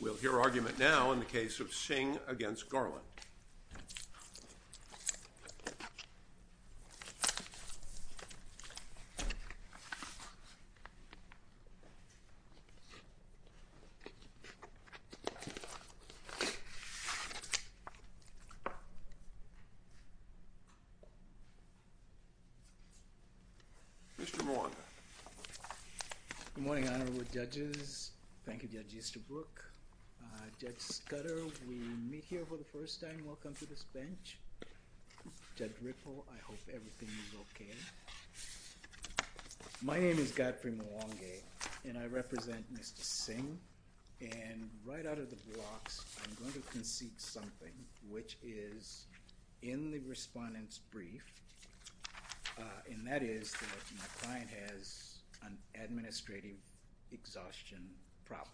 We'll hear argument now in the case of Singh against Garland. Mr. Moir. Good morning, Honorable Judges. Thank you, Judge Easterbrook. Judge Scudder, we meet here for the first time. Welcome to this bench. Judge Ripple, I hope everything is okay. My name is Godfrey Mwangi, and I represent Mr. Singh. And right out of the box, I'm going to concede something, which is in the respondent's brief. And that is that my client has an administrative exhaustion problem.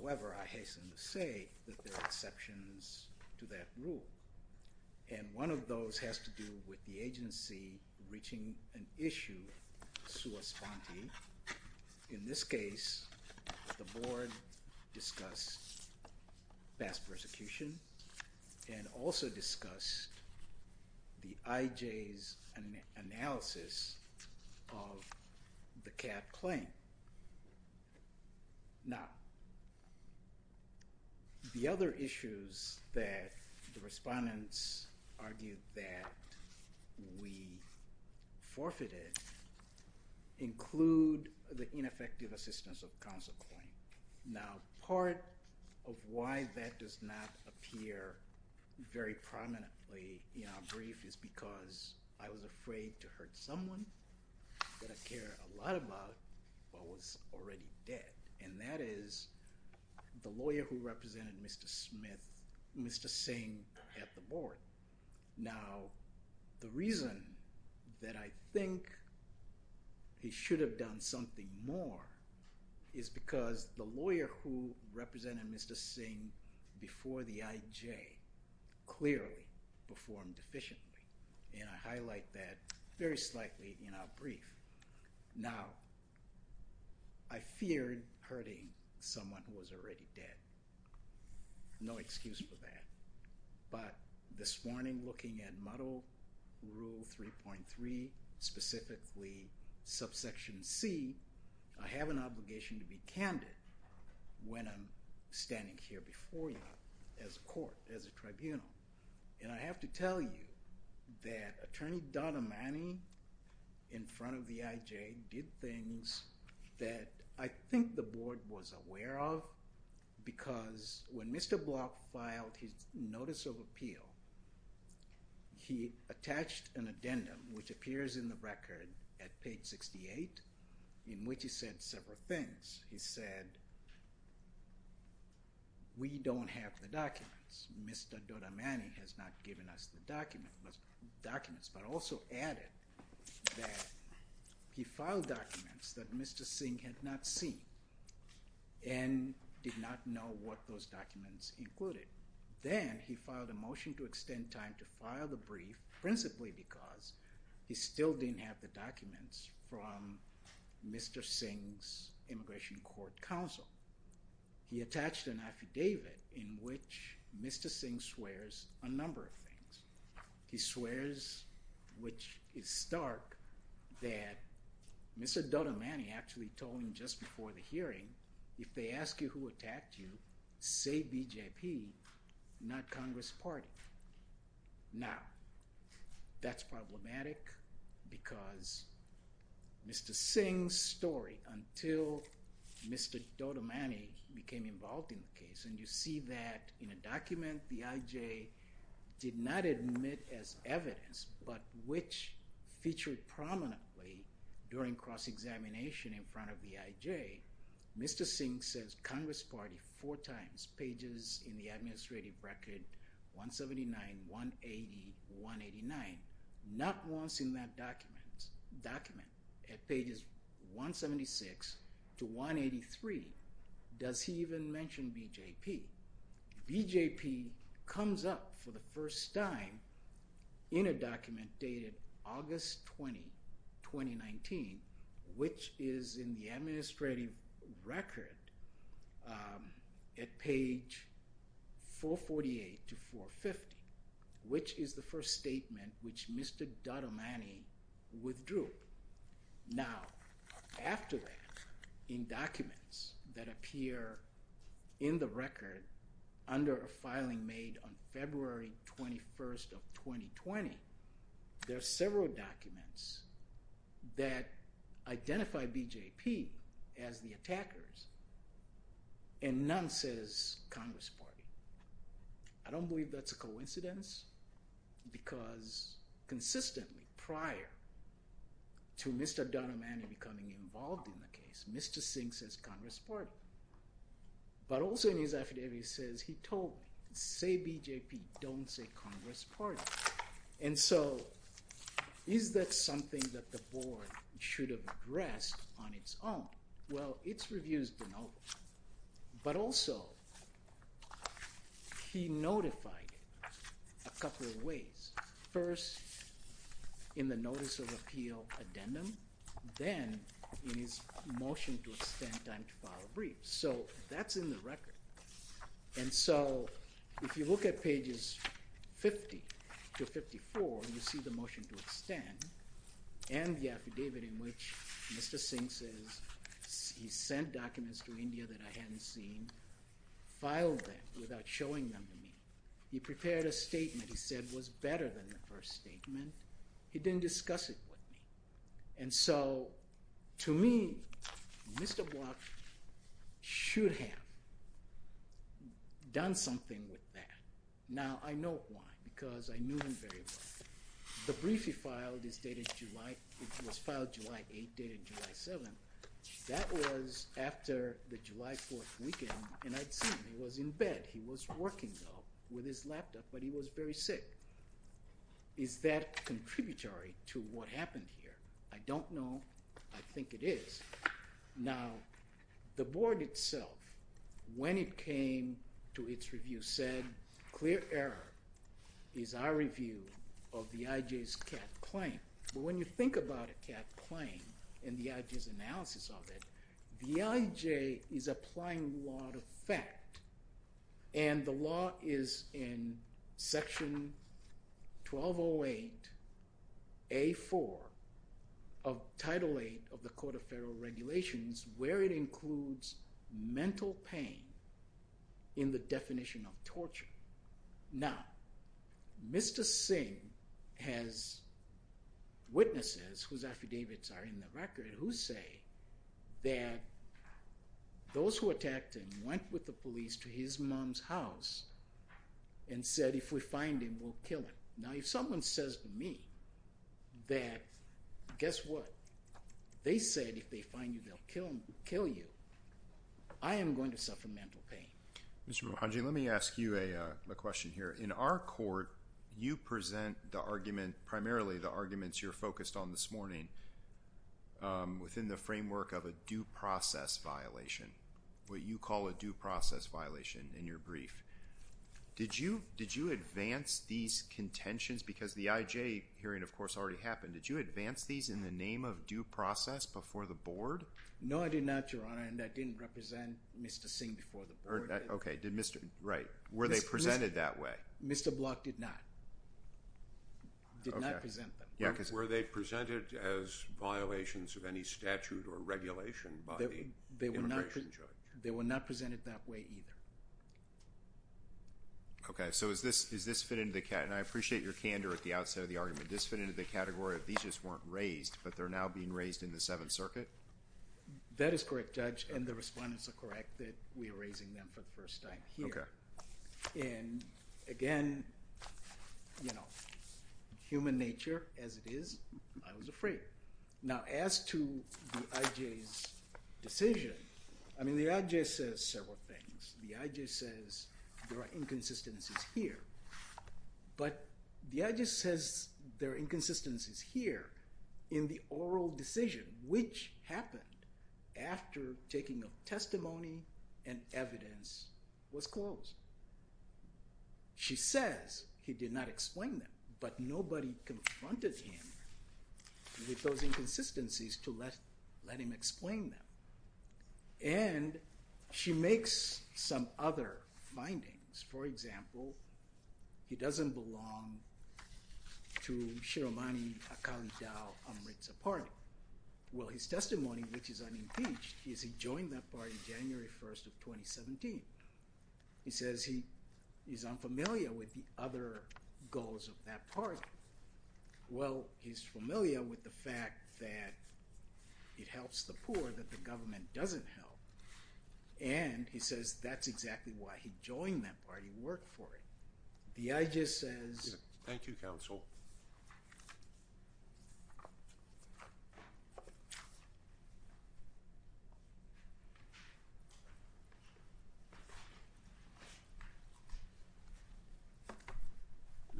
However, I hasten to say that there are exceptions to that rule. And one of those has to do with the agency reaching an issue sua sponte. In this case, the board discussed past persecution and also discussed the IJ's analysis of the CAD claim. Now, the other issues that the respondents argued that we forfeited include the ineffective assistance of counsel claim. Now part of why that does not appear very prominently in our brief is because I was afraid to hurt someone that I care a lot about but was already dead, and that is the lawyer who represented Mr. Singh at the board. Now, the reason that I think he should have done something more is because the lawyer who represented Mr. Singh before the IJ clearly performed efficiently. And I highlight that very slightly in our brief. Now, I feared hurting someone who was already dead. No excuse for that. But this morning, looking at Model Rule 3.3, specifically subsection C, I have an obligation to be candid when I'm standing here before you as a court, as a tribunal. And I have to tell you that Attorney Dodd-Imani in front of the IJ did things that I think the board was aware of because when Mr. Block filed his notice of appeal, he attached an addendum, which appears in the record at page 68, in which he said several things. He said, we don't have the documents. Mr. Dodd-Imani has not given us the documents, but also added that he filed documents that Mr. Singh had not seen and did not know what those documents included. Then he filed a motion to extend time to file the brief principally because he still didn't have the documents from Mr. Singh's Immigration Court Counsel. He attached an affidavit in which Mr. Singh swears a number of things. He swears, which is stark, that Mr. Dodd-Imani actually told him just before the hearing, if they ask you who attacked you, say BJP, not Congress Party. Now, that's problematic because Mr. Singh's story, until Mr. Dodd-Imani became involved in the case, and you see that in a document the IJ did not admit as evidence, but which featured prominently during cross-examination in front of the IJ, Mr. Singh says Congress Party four times, pages in the administrative record 179, 180, 189, not once in that document at pages 176 to 183 does he even mention BJP. BJP comes up for the first time in a document dated August 20, 2019, which is in the administrative record at page 448 to 450, which is the first statement which Mr. Dodd-Imani withdrew. Now, after that, in documents that appear in the record under a filing made on February 21st of 2020, there are several documents that identify BJP as the attackers and none says Congress Party. I don't believe that's a coincidence because consistently prior to Mr. Dodd-Imani becoming involved in the case, Mr. Singh says Congress Party, but also in his affidavit he says he told me, say BJP, don't say Congress Party. And so is that something that the board should have addressed on its own? Well, it's reviews denoted, but also he notified a couple of ways. First, in the notice of appeal addendum, then in his motion to extend time to file a brief. So that's in the record. And so if you look at pages 50 to 54, you see the motion to extend and the affidavit in which Mr. Singh says he sent documents to India that I hadn't seen, filed them without showing them to me. He prepared a statement. He said it was better than the first statement. He didn't discuss it with me. And so to me, Mr. Block should have done something with that. Now, I know why because I knew him very well. The brief he filed is dated July – it was filed July 8, dated July 7. That was after the July 4th weekend, and I'd seen him. He was in bed. He was working, though, with his laptop, but he was very sick. Is that contributory to what happened here? I don't know. I think it is. Now, the board itself, when it came to its review, said clear error is our review of the IJ's CAT claim. But when you think about a CAT claim and the IJ's analysis of it, the IJ is applying law to fact. And the law is in Section 1208A.4 of Title 8 of the Court of Federal Regulations, where it includes mental pain in the definition of torture. Now, Mr. Singh has witnesses whose affidavits are in the record who say that those who attacked him went with the police to his mom's house and said, if we find him, we'll kill him. Now, if someone says to me that, guess what, they said if they find you, they'll kill you, I am going to suffer mental pain. Mr. Mohanji, let me ask you a question here. In our court, you present primarily the arguments you're focused on this morning within the framework of a due process violation, what you call a due process violation in your brief. Did you advance these contentions? Because the IJ hearing, of course, already happened. Did you advance these in the name of due process before the board? No, I did not, Your Honor, and I didn't represent Mr. Singh before the board. Okay. Right. Were they presented that way? Mr. Block did not. Okay. Did not present them. Were they presented as violations of any statute or regulation by the immigration judge? They were not presented that way either. Okay. So does this fit into the category? And I appreciate your candor at the outset of the argument. Does this fit into the category of these just weren't raised, but they're now being raised in the Seventh Circuit? That is correct, Judge, and the respondents are correct that we are raising them for the first time here. Okay. And, again, you know, human nature as it is, I was afraid. Now, as to the IJ's decision, I mean, the IJ says several things. The IJ says there are inconsistencies here. But the IJ says there are inconsistencies here in the oral decision, which happened after taking of testimony and evidence was closed. She says he did not explain them, but nobody confronted him with those inconsistencies to let him explain them. And she makes some other findings. For example, he doesn't belong to Shiromani Akali Dow Amritsar Party. Well, his testimony, which is unimpeached, is he joined that party January 1st of 2017. He says he is unfamiliar with the other goals of that party. Well, he's familiar with the fact that it helps the poor that the government doesn't help. And he says that's exactly why he joined that party, worked for it. The IJ says... Thank you, Counsel.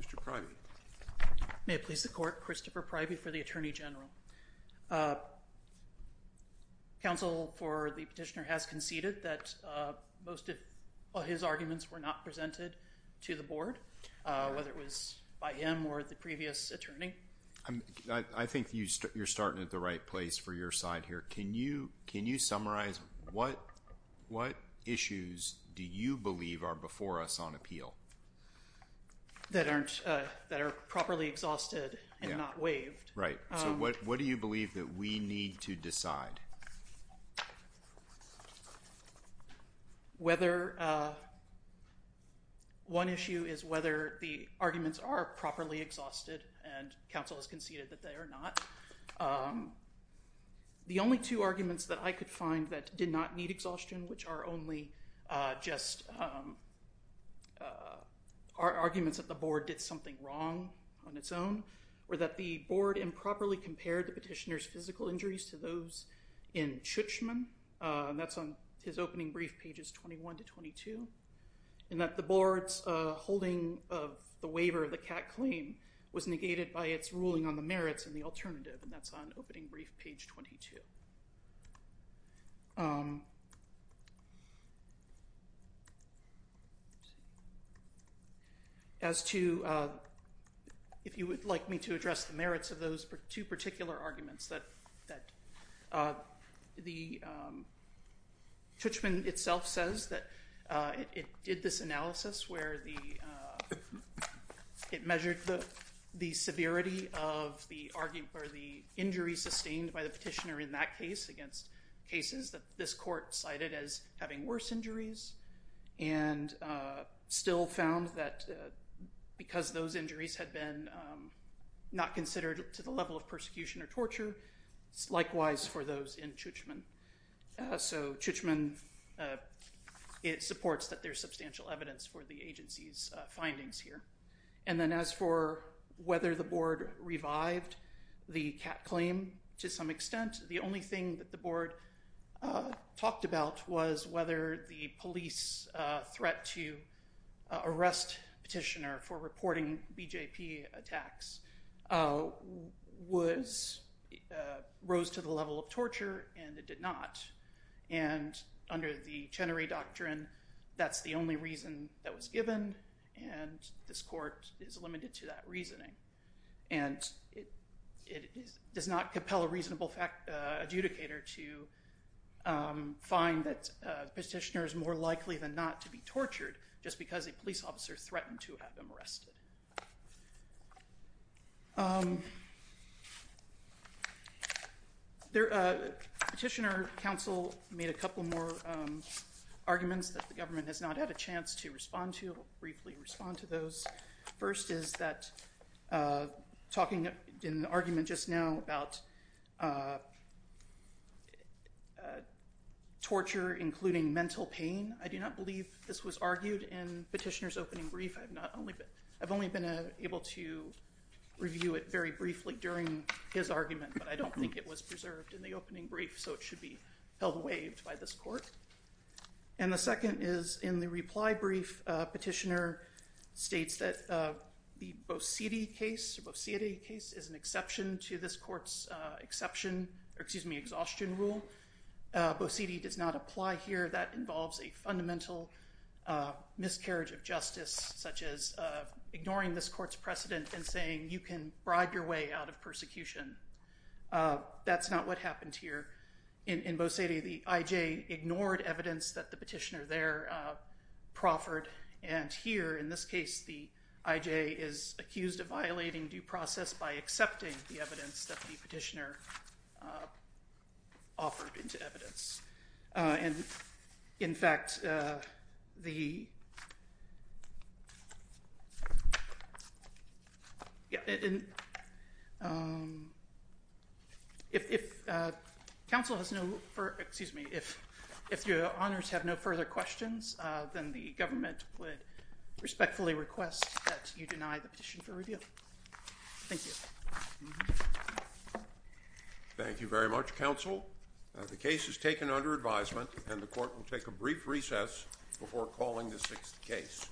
Mr. Pryby. May it please the Court. Christopher Pryby for the Attorney General. Counsel for the petitioner has conceded that most of his arguments were not presented to the board, whether it was by him or the previous attorney. I think you're starting at the right place for your side here. Can you summarize what issues do you believe are before us on appeal? That are properly exhausted and not waived. Right. So what do you believe that we need to decide? One issue is whether the arguments are properly exhausted, and Counsel has conceded that they are not. The only two arguments that I could find that did not need exhaustion, which are only just arguments that the board did something wrong on its own, were that the board improperly compared the petitioner's physical injuries to those in Chutchman. That's on his opening brief, pages 21 to 22. And that the board's holding of the waiver of the CAC claim was negated by its ruling on the merits and the alternative. And that's on opening brief, page 22. As to if you would like me to address the merits of those two particular arguments, the Chutchman itself says that it did this analysis where it measured the severity of the injury sustained by the petitioner in that case against cases that this court cited as having worse injuries, and still found that because those injuries had been not considered to the level of persecution or torture, likewise for those in Chutchman. So Chutchman supports that there's substantial evidence for the agency's findings here. And then as for whether the board revived the CAC claim to some extent, the only thing that the board talked about was whether the police threat to arrest petitioner for reporting BJP attacks rose to the level of torture, and it did not. And under the Chenery Doctrine, that's the only reason that was given, and this court is limited to that reasoning. And it does not compel a reasonable adjudicator to find that the petitioner is more likely than not to be tortured just because a police officer threatened to have him arrested. Petitioner counsel made a couple more arguments that the government has not had a chance to respond to, and I will briefly respond to those. First is that talking in the argument just now about torture, including mental pain, I do not believe this was argued in Petitioner's opening brief. I've only been able to review it very briefly during his argument, but I don't think it was preserved in the opening brief, so it should be held waived by this court. And the second is in the reply brief, Petitioner states that the Bosetti case is an exception to this court's exhaustion rule. Bosetti does not apply here. That involves a fundamental miscarriage of justice, such as ignoring this court's precedent and saying you can bribe your way out of persecution. That's not what happened here in Bosetti. Basically the I.J. ignored evidence that the petitioner there proffered, and here in this case the I.J. is accused of violating due process by accepting the evidence that the petitioner offered into evidence. In fact, if your honors have no further questions, then the government would respectfully request that you deny the petition for review. Thank you. Thank you very much, counsel. The case is taken under advisement, and the court will take a brief recess before calling the sixth case.